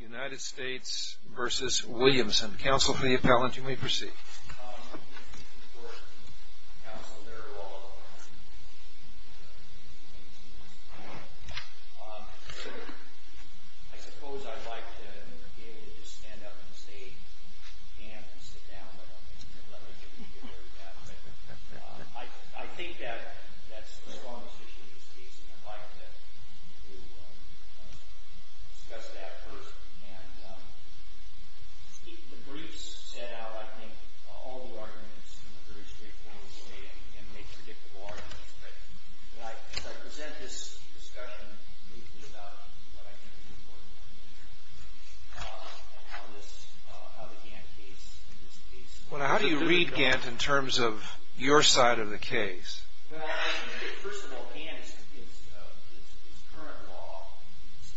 United States v. Williamson, counsel for the appellant, you may proceed. I suppose I'd like to get him to stand up and say, and sit down. I think that's the case. I think the briefs set out all the arguments in a very straightforward way, and make predictable arguments. But as I present this discussion briefly about what I think is important, how the Gantt case and this case... Well, now, how do you read Gantt in terms of your side of the case? Well, first of all, Gantt is current law.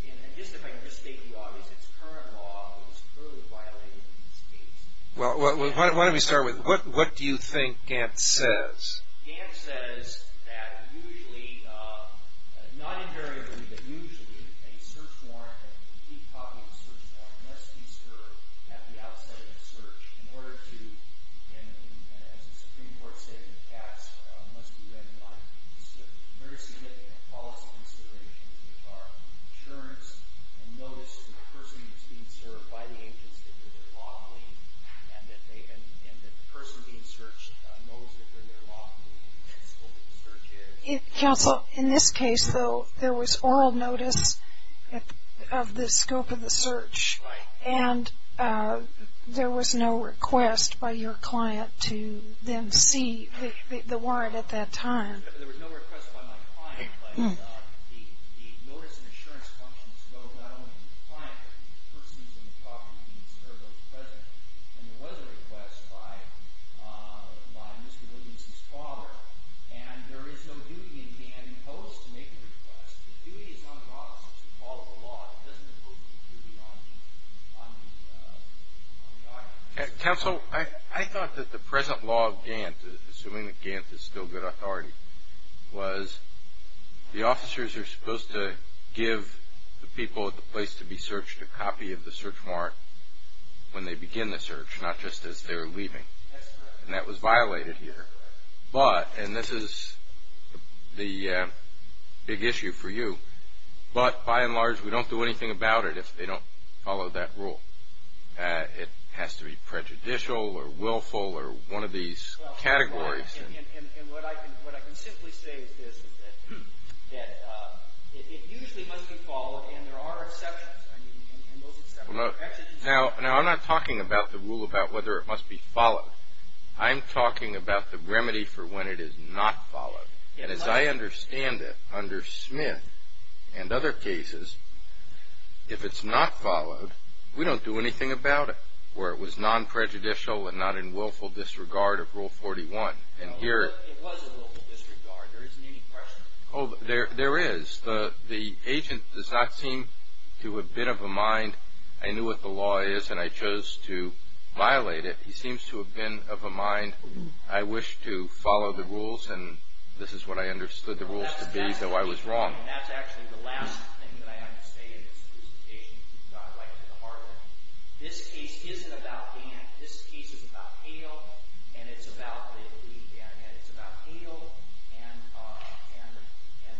And just if I can state the obvious, it's current law, which is clearly violated in this case. Well, why don't we start with, what do you think Gantt says? Gantt says that usually, not invariably, but usually, a search warrant, a complete copy of a search warrant, must be served at the outset of a search in order to, as the Supreme Court says, be ready to conduct a search. Very significant policy considerations are insurance and notice to the person who's being served by the agency that they're lawfully and that the person being searched knows that they're lawfully eligible for the search areas. Counsel, in this case, though, there was oral notice of the scope of the search. Right. And there was no request by your client to then see the warrant at that time. There was no request by my client, but the notice and insurance functions go not only to the client, but to the persons and the property being served by the president. And there was a request by Mr. Williamson's father, and there is no duty in Gantt imposed to make on the officers. Counsel, I thought that the present law of Gantt, assuming that Gantt is still good authority, was the officers are supposed to give the people at the place to be searched a copy of the search warrant when they begin the search, not just as they're leaving. Yes, sir. And that was violated here. Yes, sir. But, and this is the big issue for you, but by and large, we don't do anything about it if they don't follow that rule. It has to be prejudicial or willful or one of these categories. And what I can simply say is this, is that it usually must be followed, and there are exceptions. I mean, and those exceptions are exigent. Now, I'm not talking about the rule about whether it must be followed. I'm talking about the remedy for when it is not followed. And as I understand it, under Smith and other cases, if it's not followed, we don't do anything about it where it was non-prejudicial and not in willful disregard of Rule 41. It was a willful disregard. There isn't any question. Oh, there is. The agent does not seem to have been of a mind, I knew what the law is, and I chose to violate it. He seems to have been of a mind, I wish to follow the rules, and this is what I understood the rules to be, so I was wrong. And that's actually the last thing that I have to say in this presentation, which I would like to hearten. This case isn't about Gant. This case is about Hale, and it's about the, it's about Hale and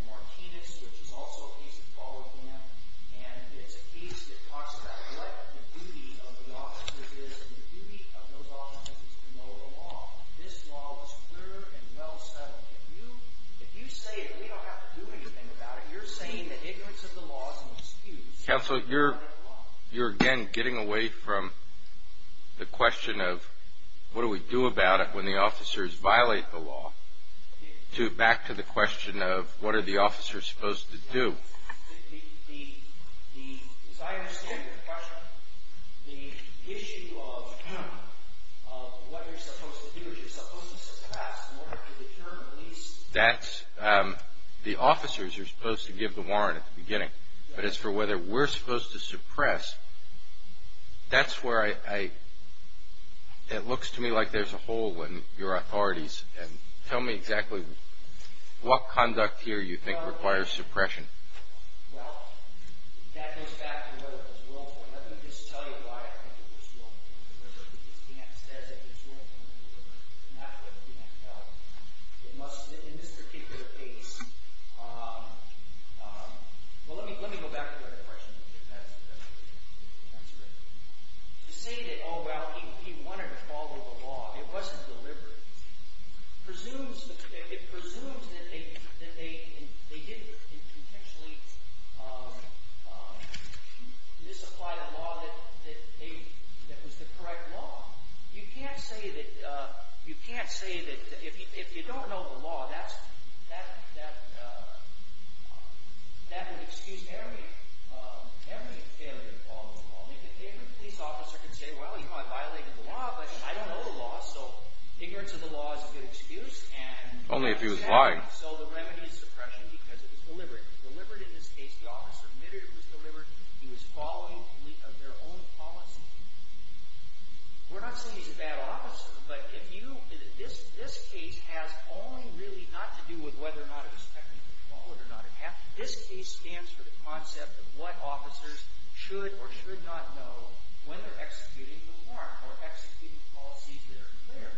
Martinez, which is also a case that followed Gant. And it's a case that talks about what the duty of the officers is and the duty of those officers is to know the law. Counsel, you're again getting away from the question of what do we do about it when the officers violate the law to back to the question of what are the officers supposed to do. As I understand your question, the issue of what you're supposed to do is you're supposed to suppress in order to determine at least. That's, the officers are supposed to give the warrant at the beginning, but as for whether we're supposed to suppress, that's where I, it looks to me like there's a hole in your Well, that goes back to whether it was willful, and let me just tell you why I think it was willful. Because Gant says it was willful and deliberate, and that's what Gant felt. It must, in this particular case, well, let me, let me go back to the other question, if that's the best way to answer it. To say that, oh, well, he wanted to follow the law, it wasn't deliberate, presumes, it presumes, this applied a law that was the correct law. You can't say that, you can't say that if you don't know the law, that's, that, that would excuse every, every failure to follow the law. I mean, the favorite police officer could say, well, you know, I violated the law, but I don't know the law, so ignorance of the law is a good excuse, and Only if he was lying. So the remedy is suppression because it was deliberate. It was deliberate in this case. The officer admitted it was deliberate. He was following their own policy. We're not saying he's a bad officer, but if you, this, this case has only really not to do with whether or not it was technically followed or not. This case stands for the concept of what officers should or should not know when they're executing the warrant or executing policies that are declared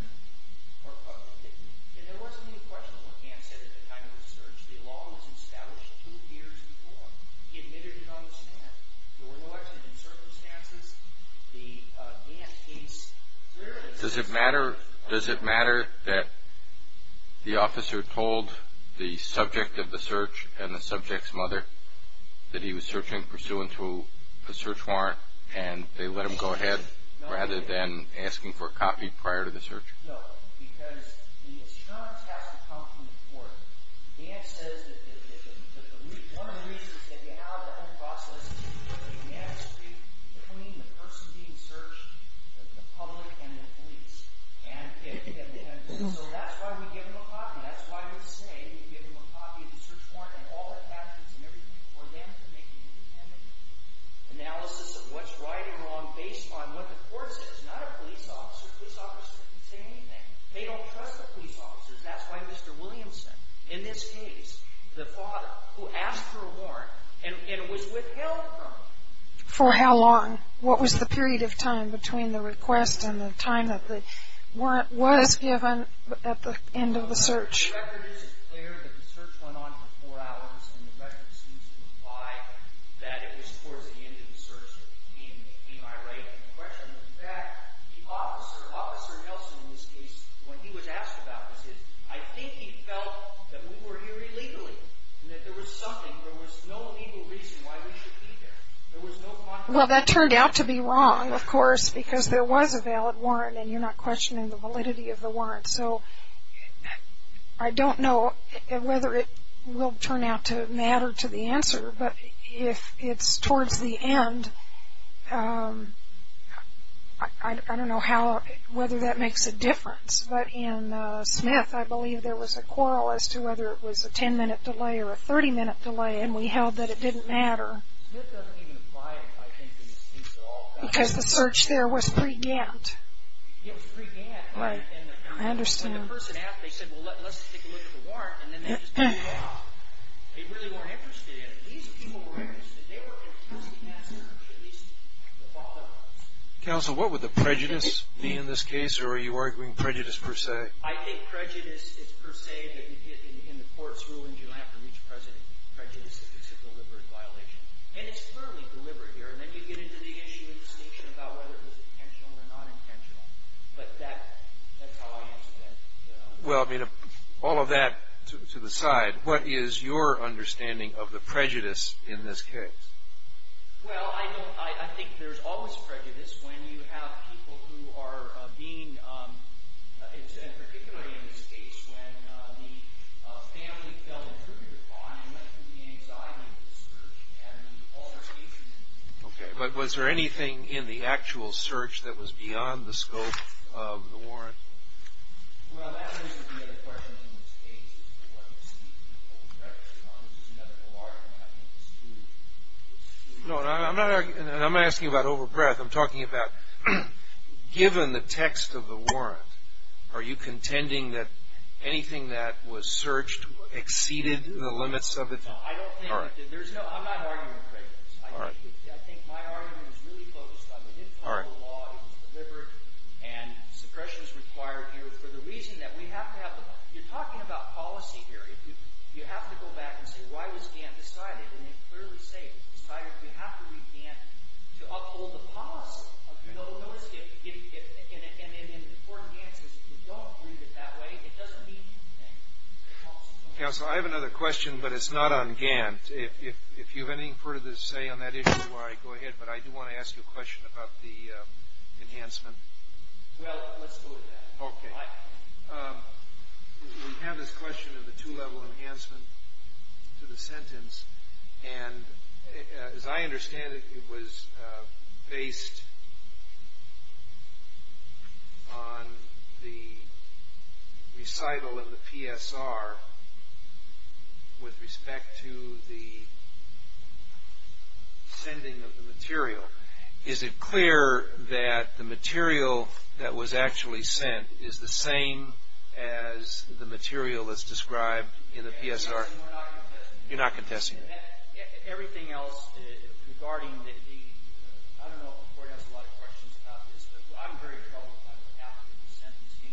or public. And there wasn't any question of what Gant said at the time of the search. The law was established two years before. He admitted it on the stand. There were no accident circumstances. The Gant case, there is. Does it matter, does it matter that the officer told the subject of the search and the subject's mother that he was searching pursuant to a search warrant, and they let him go ahead rather than asking for a copy prior to the search? No, because the assurance has to come from the court. Gant says that one of the reasons that you have the whole process between the person being searched, the public, and the police. And so that's why we give him a copy. That's why we say we give him a copy of the search warrant and all the patterns and everything for them to make an independent analysis of what's right and wrong based on what the court says. It's not a police officer. Police officers can say anything. They don't trust the police officers. That's why Mr. Williamson, in this case, the father, who asked for a warrant and was withheld from him. For how long? What was the period of time between the request and the time that the warrant was given at the end of the search? The record is clear that the search went on for four hours, and the record seems to imply that it was towards the end of the search. Am I right in questioning that the officer, Officer Nelson, in this case, when he was asked about this, I think he felt that we were here illegally and that there was something, there was no legal reason why we should be here. There was no contract. Well, that turned out to be wrong, of course, because there was a valid warrant, and you're not questioning the validity of the warrant. So I don't know whether it will turn out to matter to the answer, but if it's towards the end, I don't know whether that makes a difference. But in Smith, I believe there was a quarrel as to whether it was a 10-minute delay or a 30-minute delay, and we held that it didn't matter. Smith doesn't even apply it, I think, in his case at all. Because the search there was pre-Gant. It was pre-Gant. I understand. When the person asked, they said, well, let's take a look at the warrant, and then they just gave it off. They really weren't interested in it. These people were interested. They were interested in asking for at least the bottom line. Counsel, what would the prejudice be in this case, or are you arguing prejudice per se? I think prejudice is per se. In the court's ruling, you don't have to reach prejudice if it's a deliberate violation. And it's clearly deliberate here, and then you get into the issue of distinction about whether it was intentional or not intentional. But that's how I answer that. Well, I mean, all of that to the side. What is your understanding of the prejudice in this case? Well, I think there's always prejudice when you have people who are being, and particularly in this case, when the family felt intrigued upon the anxiety of the search and the altercation. Okay. But was there anything in the actual search that was beyond the scope of the warrant? Well, that brings up the other question in this case, what is the over-breadth of the warrant. This is another whole argument. I think it's too – No, I'm not – and I'm not asking you about over-breadth. I'm talking about given the text of the warrant, are you contending that anything that was searched exceeded the limits of its – No, I don't think – All right. There's no – I'm not arguing prejudice. All right. I think my argument is really close. All right. It did follow the law. It was delivered. And suppression is required here for the reason that we have to have – you're talking about policy here. You have to go back and say, why was Gant decided? And they clearly say it was decided. You have to read Gant to uphold the policy. Notice if – and the important answer is if you don't read it that way, it doesn't mean anything. Counsel, I have another question, but it's not on Gant. If you have anything further to say on that issue, go ahead. But I do want to ask you a question about the enhancement. Well, let's go with that. Okay. We have this question of the two-level enhancement to the sentence, and as I understand it, it was based on the recital of the PSR with respect to the sending of the material. Is it clear that the material that was actually sent is the same as the material that's described in the PSR? We're not contesting that. You're not contesting that. Everything else regarding the – I don't know if the Court has a lot of questions about this, but I'm very troubled by the applicant's sentencing.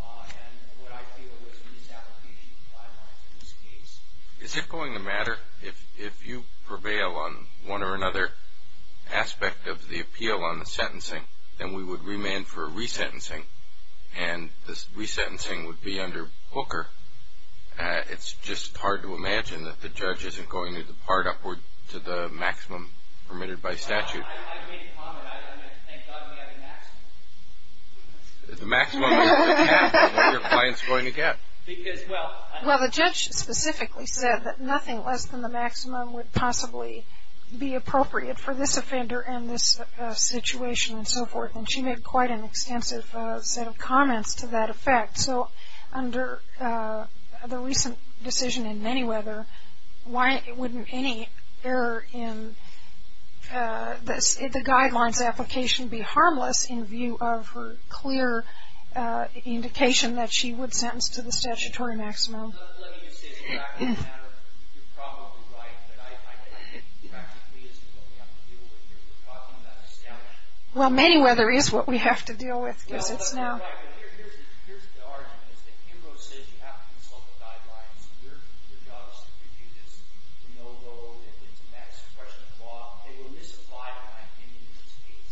And what I feel is a misapplication of my rights in this case. Is it going to matter if you prevail on one or another aspect of the appeal on the sentencing, then we would remain for a resentencing, and the resentencing would be under Booker. It's just hard to imagine that the judge isn't going to depart upward to the maximum permitted by statute. I've made a comment. I'm going to thank God we have a maximum. The maximum is the cap of what your client's going to get. Well, the judge specifically said that nothing less than the maximum would possibly be appropriate for this offender and this situation and so forth, and she made quite an extensive set of comments to that effect. So under the recent decision in Manyweather, why wouldn't any error in the guidelines application be harmless in view of her clear indication that she would sentence to the statutory maximum? Let me just say that you're probably right, but I think it practically isn't what we have to deal with here. You're talking about establishments. Well, Manyweather is what we have to deal with, because it's now. Here's the argument. It's that Kimbrough says you have to consult the guidelines. Your job is to review this, to know, though, that it's a matter of suppression of the law. They were misapplied, in my opinion, in this case,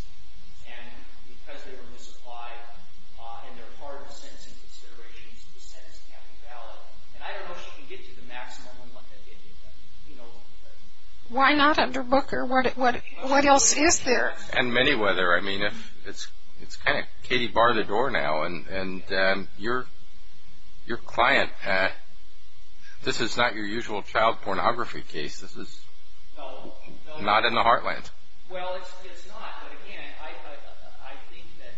and because they were misapplied and they're part of the sentencing consideration, the sentence can't be valid. And I don't know if she can get to the maximum we want to get there. Why not under Booker? What else is there? In Manyweather, I mean, it's kind of Katie bar the door now, and your client, this is not your usual child pornography case. This is not in the heartland. Well, it's not, but, again, I think that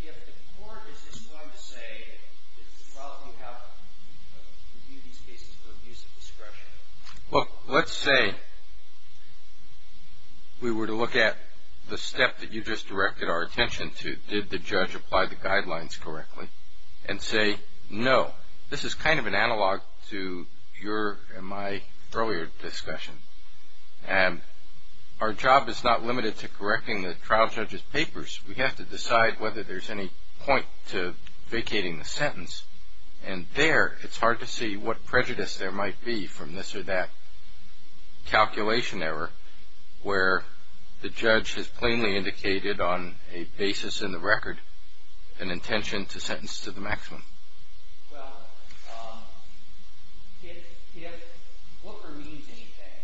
the court is just going to say, Ralph, you have to review these cases for abuse of discretion. Look, let's say we were to look at the step that you just directed our attention to, did the judge apply the guidelines correctly, and say, no. This is kind of an analog to your and my earlier discussion. Our job is not limited to correcting the trial judge's papers. We have to decide whether there's any point to vacating the sentence, and there it's hard to see what prejudice there might be from this or that calculation error where the judge has plainly indicated on a basis in the record an intention to sentence to the maximum. Well, if Booker means anything,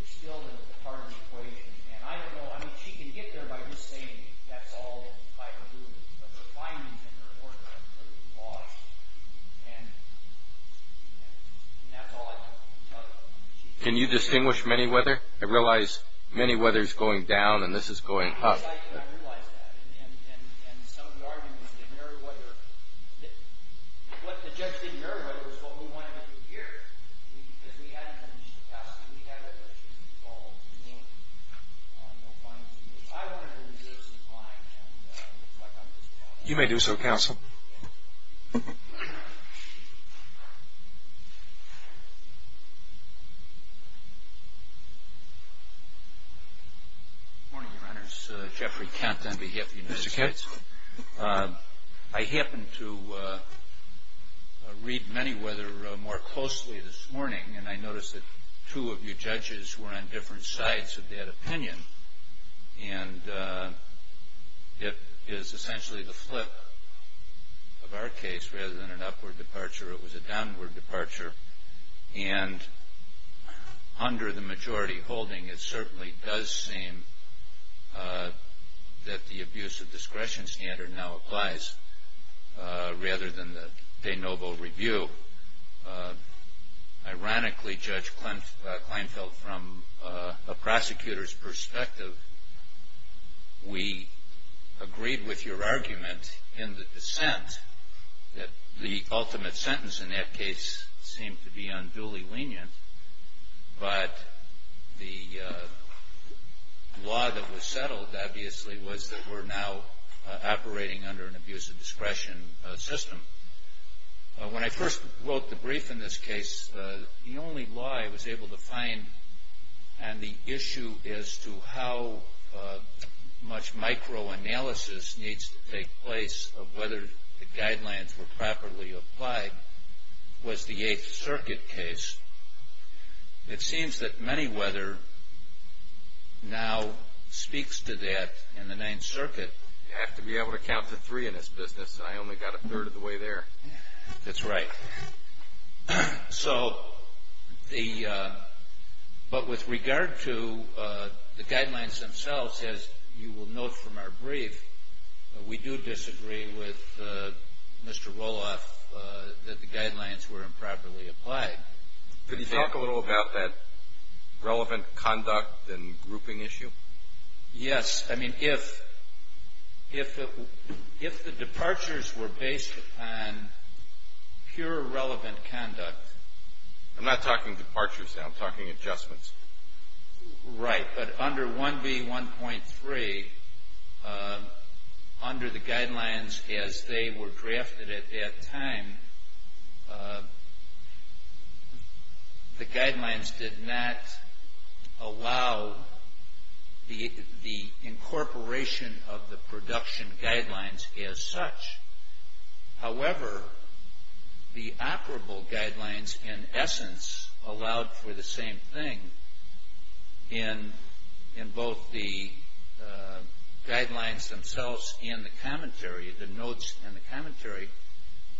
it's still part of the equation. And I don't know. I mean, she can get there by just saying that's all I can do. But the findings in her order are lost, and that's all I can tell you. Can you distinguish many-whether? I realize many-whether is going down, and this is going up. Yes, I realize that, and some of the arguments that marry-whether, what the judge didn't marry-whether is what we wanted to hear, because we hadn't finished the casting. We had other issues involved. I wanted to reduce the blind and reflect on this. You may do so, counsel. Good morning, Your Honor. This is Jeffrey Kent on behalf of the United States. I happened to read many-whether more closely this morning, and I noticed that two of you judges were on different sides of that opinion. And it is essentially the flip of our case rather than an upward departure. It was a downward departure. And under the majority holding, it certainly does seem that the abuse of discretion standard now applies, rather than the de novo review. Ironically, Judge Kleinfeld, from a prosecutor's perspective, we agreed with your argument in the dissent that the ultimate sentence in that case seemed to be unduly lenient, but the law that was settled, obviously, was that we're now operating under an abuse of discretion system. When I first wrote the brief in this case, the only law I was able to find, and the issue as to how much microanalysis needs to take place of whether the was the Eighth Circuit case, it seems that many-whether now speaks to that in the Ninth Circuit. You have to be able to count to three in this business, and I only got a third of the way there. That's right. So, but with regard to the guidelines themselves, as you will note from our brief, we do disagree with Mr. Roloff that the guidelines were improperly applied. Could you talk a little about that relevant conduct and grouping issue? Yes. I mean, if the departures were based upon pure relevant conduct. I'm not talking departures now. I'm talking adjustments. Right. But under 1B1.3, under the guidelines as they were drafted at that time, the guidelines did not allow the incorporation of the production guidelines as such. However, the operable guidelines, in essence, allowed for the same thing in both the guidelines themselves and the commentary, the notes and the commentary,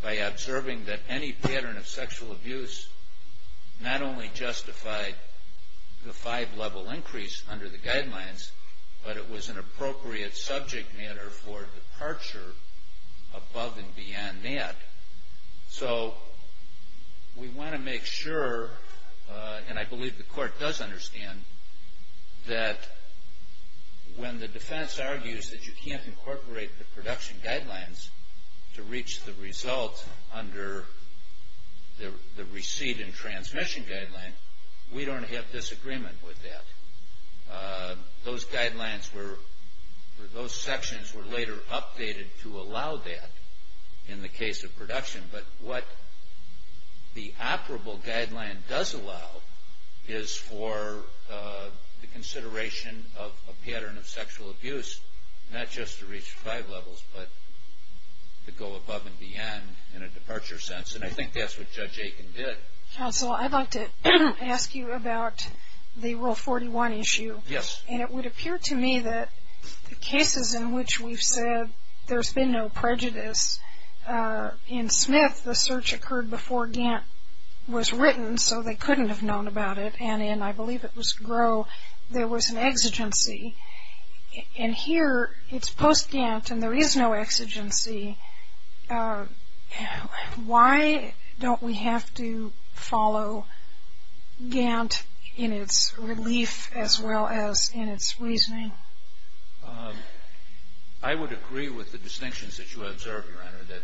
by observing that any pattern of sexual abuse not only justified the five-level increase under the guidelines, but it was an appropriate subject matter for departure above and beyond that. So, we want to make sure, and I believe the court does understand, that when the defense argues that you can't incorporate the production guidelines to reach the result under the receipt and transmission guideline, we don't have disagreement with that. Those guidelines were, those sections were later updated to allow that in the case of production. But what the operable guideline does allow is for the consideration of a pattern of sexual abuse, not just to reach five levels, but to go above and beyond in a departure sense. And I think that's what Judge Aiken did. Counsel, I'd like to ask you about the Rule 41 issue. Yes. And it would appear to me that the cases in which we've said there's been no prejudice. In Smith, the search occurred before Gantt was written, so they couldn't have known about it. And in, I believe it was Groh, there was an exigency. And here, it's post-Gantt, and there is no exigency. Why don't we have to follow Gantt in its relief as well as in its reasoning? I would agree with the distinctions that you observed, Your Honor,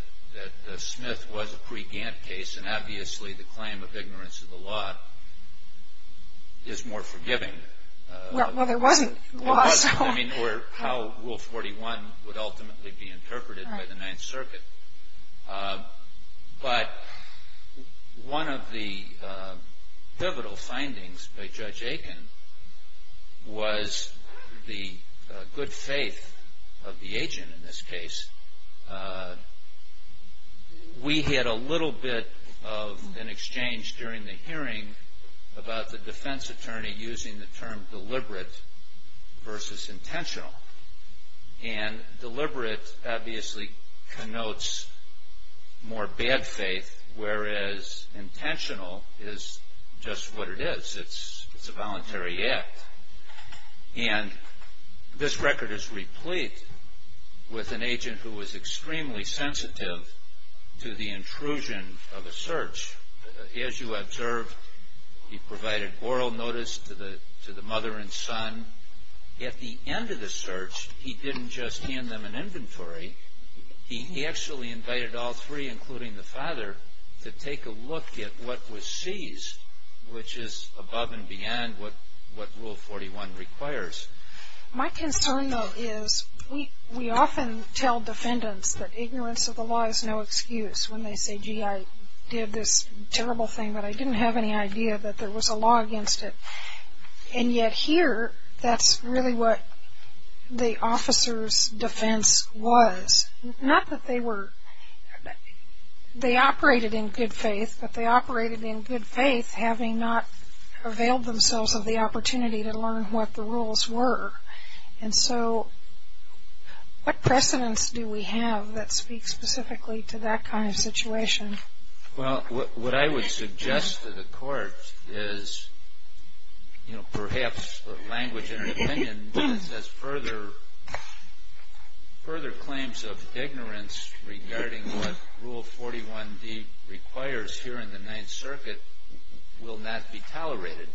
that Smith was a pre-Gantt case, and obviously the claim of ignorance of the law is more forgiving. Well, there wasn't. Or how Rule 41 would ultimately be interpreted by the Ninth Circuit. But one of the pivotal findings by Judge Aiken was the good faith of the agent in this case. We had a little bit of an exchange during the hearing about the defense attorney using the term deliberate versus intentional. And deliberate obviously connotes more bad faith, whereas intentional is just what it is. It's a voluntary act. And this record is replete with an agent who was extremely sensitive to the intrusion of a search. As you observed, he provided oral notice to the mother and son. At the end of the search, he didn't just hand them an inventory. He actually invited all three, including the father, to take a look at what was seized, which is above and beyond what Rule 41 requires. My concern, though, is we often tell defendants that ignorance of the law is no excuse when they say, gee, I did this terrible thing, but I didn't have any idea that there was a law against it. And yet here, that's really what the officer's defense was. Not that they were, they operated in good faith, but they operated in good faith having not availed themselves of the opportunity to learn what the rules were. And so what precedents do we have that speak specifically to that kind of situation? Well, what I would suggest to the Court is, you know, perhaps language and opinion that says further claims of ignorance regarding what Rule 41D requires here in the Ninth Circuit will not be tolerated.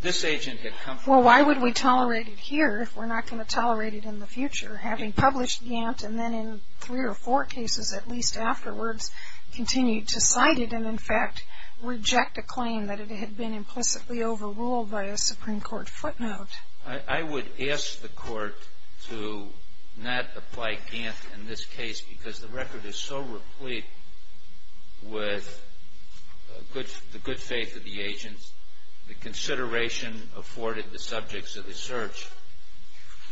This agent had come from the Ninth Circuit. Well, why would we tolerate it here if we're not going to tolerate it in the future, having published Gantt and then in three or four cases at least afterwards continued to cite it and in fact reject a claim that it had been implicitly overruled by a Supreme Court footnote? I would ask the Court to not apply Gantt in this case because the record is so replete with the good faith of the agents, the consideration afforded the subjects of the search,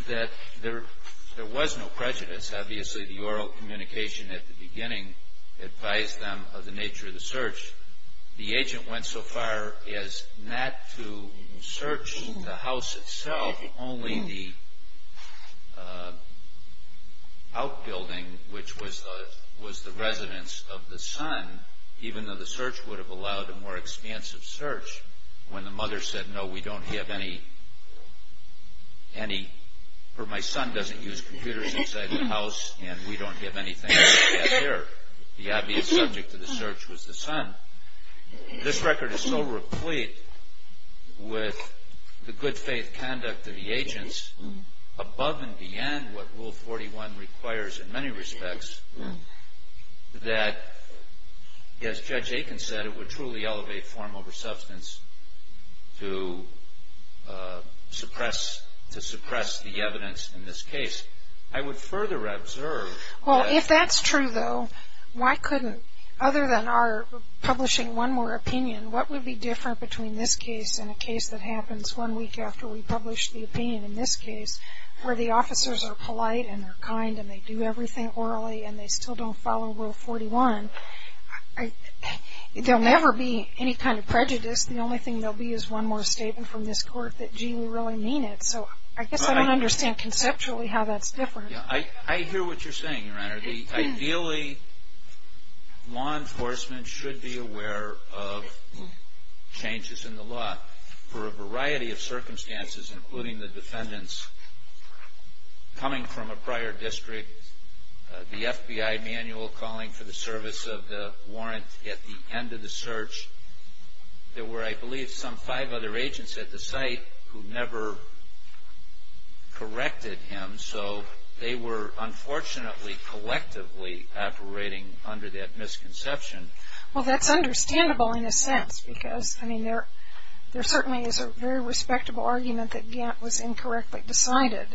that there was no prejudice. Obviously, the oral communication at the beginning advised them of the nature of the search. The agent went so far as not to search the house itself, only the outbuilding, which was the residence of the son, even though the search would have allowed a more expansive search, when the mother said, no, we don't have any, or my son doesn't use computers inside the house and we don't have anything like that here. The obvious subject of the search was the son. This record is so replete with the good faith conduct of the agents, above and beyond what Rule 41 requires in many respects, that as Judge Aiken said, it would truly elevate form over substance to suppress the evidence in this case. I would further observe that... In publishing one more opinion, what would be different between this case and a case that happens one week after we publish the opinion in this case, where the officers are polite and they're kind and they do everything orally and they still don't follow Rule 41? There'll never be any kind of prejudice. The only thing there'll be is one more statement from this Court that, gee, we really mean it. So I guess I don't understand conceptually how that's different. I hear what you're saying, Your Honor. Ideally, law enforcement should be aware of changes in the law for a variety of circumstances, including the defendants coming from a prior district, the FBI manual calling for the service of the warrant at the end of the search. There were, I believe, some five other agents at the site who never corrected him, so they were unfortunately collectively operating under that misconception. Well, that's understandable in a sense because, I mean, there certainly is a very respectable argument that Gant was incorrectly decided,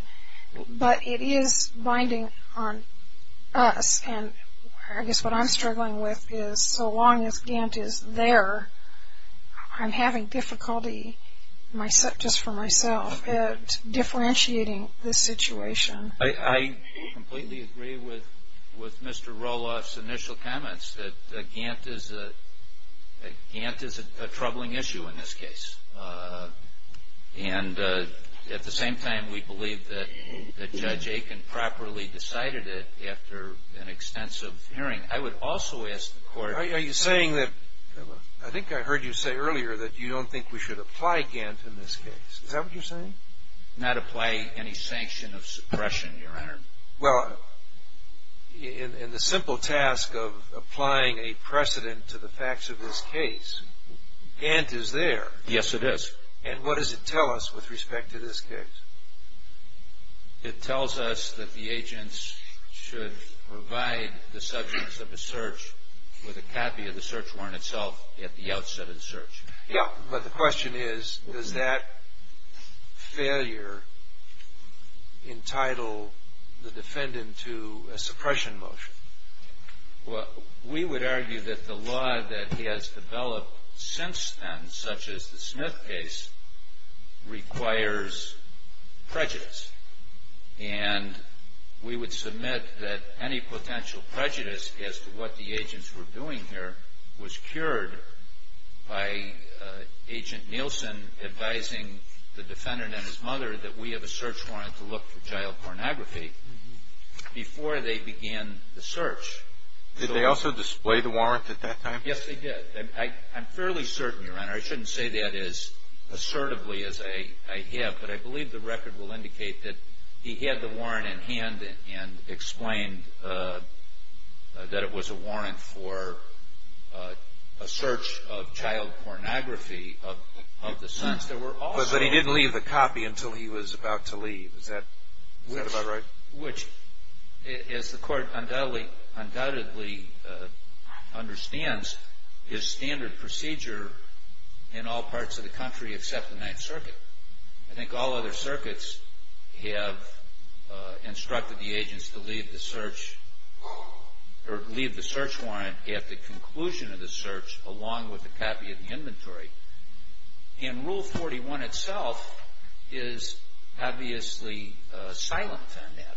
but it is binding on us, and I guess what I'm struggling with is so long as Gant is there, I'm having difficulty just for myself at differentiating the situation. I completely agree with Mr. Roloff's initial comments that Gant is a troubling issue in this case. And at the same time, we believe that Judge Aiken properly decided it after an extensive hearing. I would also ask the Court— Are you saying that—I think I heard you say earlier that you don't think we should apply Gant in this case. Is that what you're saying? Not apply any sanction of suppression, Your Honor. Well, in the simple task of applying a precedent to the facts of this case, Gant is there. Yes, it is. And what does it tell us with respect to this case? It tells us that the agents should provide the subjects of a search with a copy of the search warrant itself at the outset of the search. Yeah, but the question is, does that failure entitle the defendant to a suppression motion? Well, we would argue that the law that he has developed since then, such as the Smith case, requires prejudice. And we would submit that any potential prejudice as to what the agents were doing here was cured by Agent Nielsen advising the defendant and his mother that we have a search warrant to look for child pornography before they began the search. Did they also display the warrant at that time? Yes, they did. I'm fairly certain, Your Honor, I shouldn't say that as assertively as I have, but I believe the record will indicate that he had the warrant in hand and explained that it was a warrant for a search of child pornography of the sense. Is that about right? Which, as the Court undoubtedly understands, is standard procedure in all parts of the country except the Ninth Circuit. I think all other circuits have instructed the agents to leave the search warrant at the conclusion of the search In Rule 41 itself is obviously silent on that.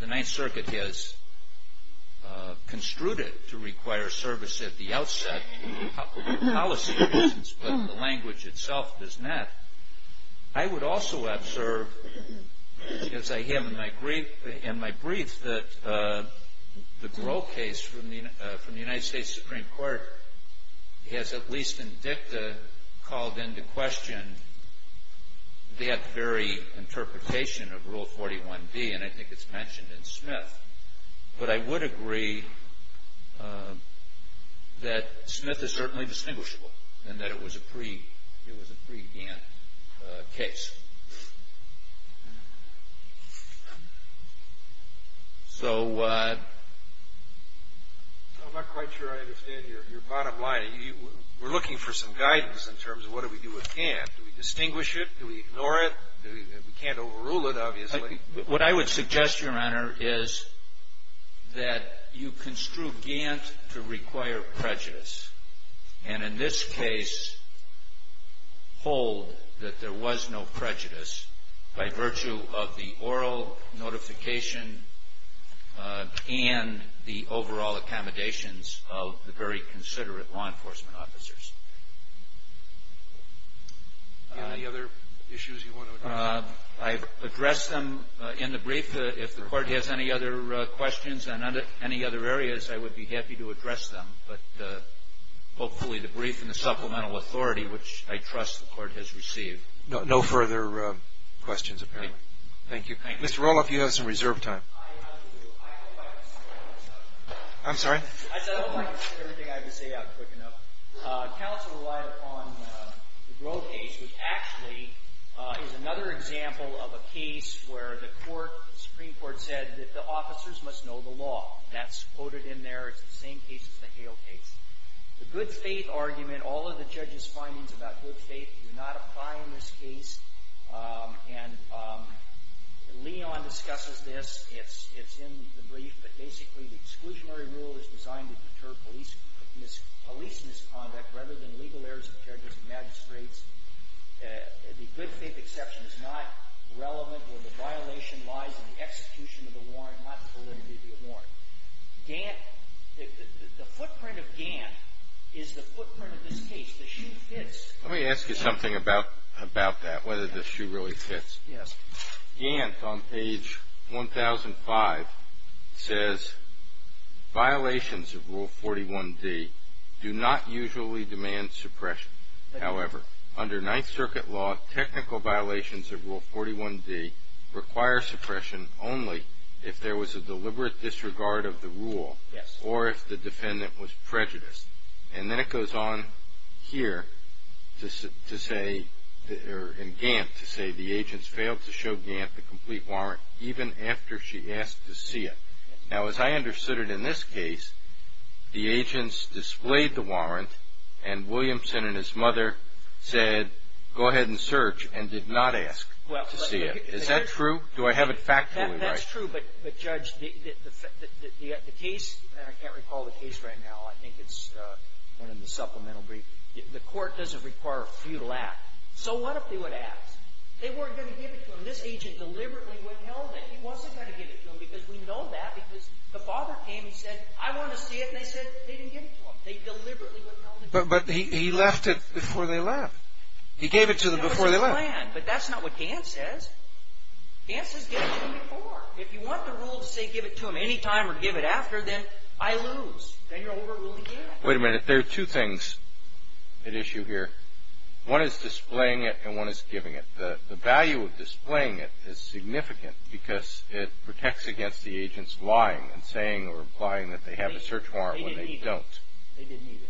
The Ninth Circuit has construed it to require service at the outset for policy reasons, but the language itself does not. I would also observe, as I have in my brief, that the Groh case from the United States Supreme Court has, at least in dicta, called into question that very interpretation of Rule 41B, and I think it's mentioned in Smith. But I would agree that Smith is certainly distinguishable and that it was a pre-Gantt case. So... I'm not quite sure I understand your bottom line. We're looking for some guidance in terms of what do we do with Gantt. Do we distinguish it? Do we ignore it? We can't overrule it, obviously. What I would suggest, Your Honor, is that you construe Gantt to require prejudice, and in this case hold that there was no prejudice by virtue of the oral notification and the overall accommodations of the very considerate law enforcement officers. Any other issues you want to address? I've addressed them in the brief. If the Court has any other questions on any other areas, I would be happy to address them, but hopefully the brief and the supplemental authority, which I trust the Court has received. No further questions, apparently. Thank you. Mr. Roloff, you have some reserve time. I hope I can say something. I'm sorry? I said I hope I can say everything I have to say out quick enough. Counsel relied upon the Grove case, which actually is another example of a case where the Supreme Court said that the officers must know the law. That's quoted in there. It's the same case as the Hale case. The good faith argument, all of the judge's findings about good faith do not apply in this case. It's in the brief. Basically, the exclusionary rule is designed to deter police misconduct rather than legal errors of judges and magistrates. The good faith exception is not relevant where the violation lies in the execution of the warrant, not the validity of the warrant. The footprint of Gant is the footprint of this case. The shoe fits. Let me ask you something about that, whether the shoe really fits. Yes. Gant, on page 1005, says, Violations of Rule 41D do not usually demand suppression. However, under Ninth Circuit law, technical violations of Rule 41D require suppression only if there was a deliberate disregard of the rule or if the defendant was prejudiced. And then it goes on here to say, or in Gant to say, The agents failed to show Gant the complete warrant even after she asked to see it. Now, as I understood it in this case, the agents displayed the warrant, and Williamson and his mother said, go ahead and search, and did not ask to see it. Is that true? Do I have it factually right? That's true. But, Judge, the case, and I can't recall the case right now. I think it's one of the supplemental briefs. The court doesn't require a futile act. So what if they would ask? They weren't going to give it to him. This agent deliberately went and held it. He wasn't going to give it to him because we know that. Because the father came and said, I want to see it, and they said they didn't give it to him. They deliberately went and held it. But he left it before they left. He gave it to them before they left. That was the plan. But that's not what Gant says. Gant says give it to him before. If you want the rule to say give it to him any time or give it after, then I lose. Then you're overruling Gant. Wait a minute. There are two things at issue here. One is displaying it, and one is giving it. The value of displaying it is significant because it protects against the agents lying and saying or implying that they have a search warrant when they don't. They didn't need it. They didn't need it.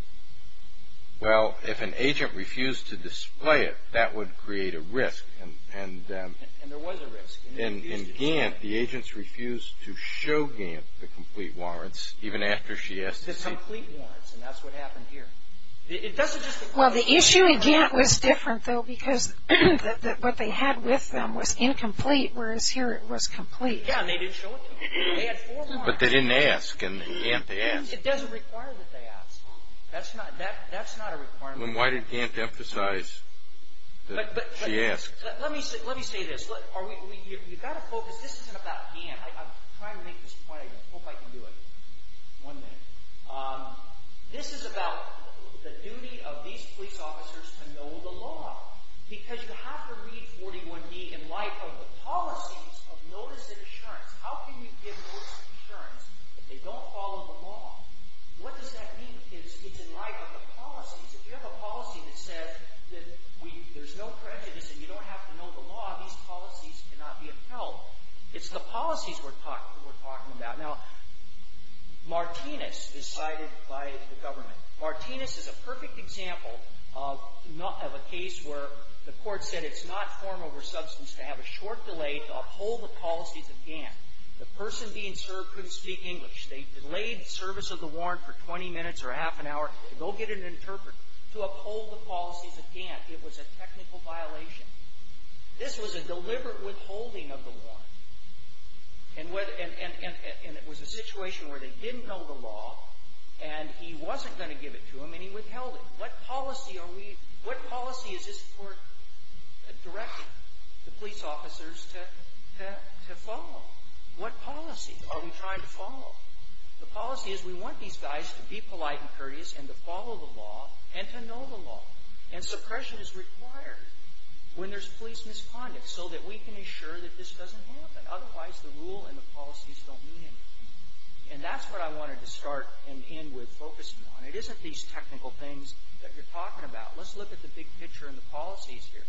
Well, if an agent refused to display it, that would create a risk. And there was a risk. In Gant, the agents refused to show Gant the complete warrants even after she asked to see it. The complete warrants, and that's what happened here. It doesn't just apply to Gant. Well, the issue at Gant was different, though, because what they had with them was incomplete, whereas here it was complete. Yeah, and they didn't show it to them. They had four warrants. But they didn't ask, and Gant asked. It doesn't require that they ask. That's not a requirement. Why did Gant emphasize that she asked? Let me say this. You've got to focus. This isn't about Gant. I'm trying to make this point. I hope I can do it. One minute. This is about the duty of these police officers to know the law because you have to read 41D in light of the policies of notice and assurance. How can you give notice and assurance if they don't follow the law? What does that mean? It means in light of the policies. If you have a policy that says that there's no prejudice and you don't have to know the law, these policies cannot be upheld. It's the policies we're talking about. Now, Martinez is cited by the government. Martinez is a perfect example of a case where the court said it's not form over substance to have a short delay to uphold the policies of Gant. The person being served couldn't speak English. They delayed service of the warrant for 20 minutes or a half an hour to go get an interpreter to uphold the policies of Gant. It was a technical violation. This was a deliberate withholding of the warrant. And it was a situation where they didn't know the law, and he wasn't going to give it to them, and he withheld it. What policy are we – what policy is this court directing the police officers to follow? What policy are we trying to follow? The policy is we want these guys to be polite and courteous and to follow the law and to know the law. And suppression is required when there's police misconduct so that we can ensure that this doesn't happen. Otherwise, the rule and the policies don't mean anything. And that's what I wanted to start and end with focusing on. It isn't these technical things that you're talking about. Let's look at the big picture and the policies here.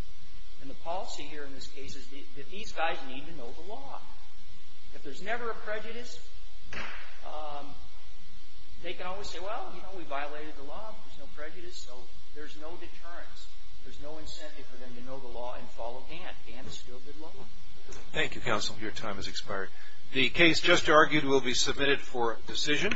And the policy here in this case is that these guys need to know the law. If there's never a prejudice, they can always say, well, you know, we violated the law. There's no prejudice, so there's no deterrence. There's no incentive for them to know the law and follow Gant. Gant is still good law. Thank you, counsel. Your time has expired. The case just argued will be submitted for decision.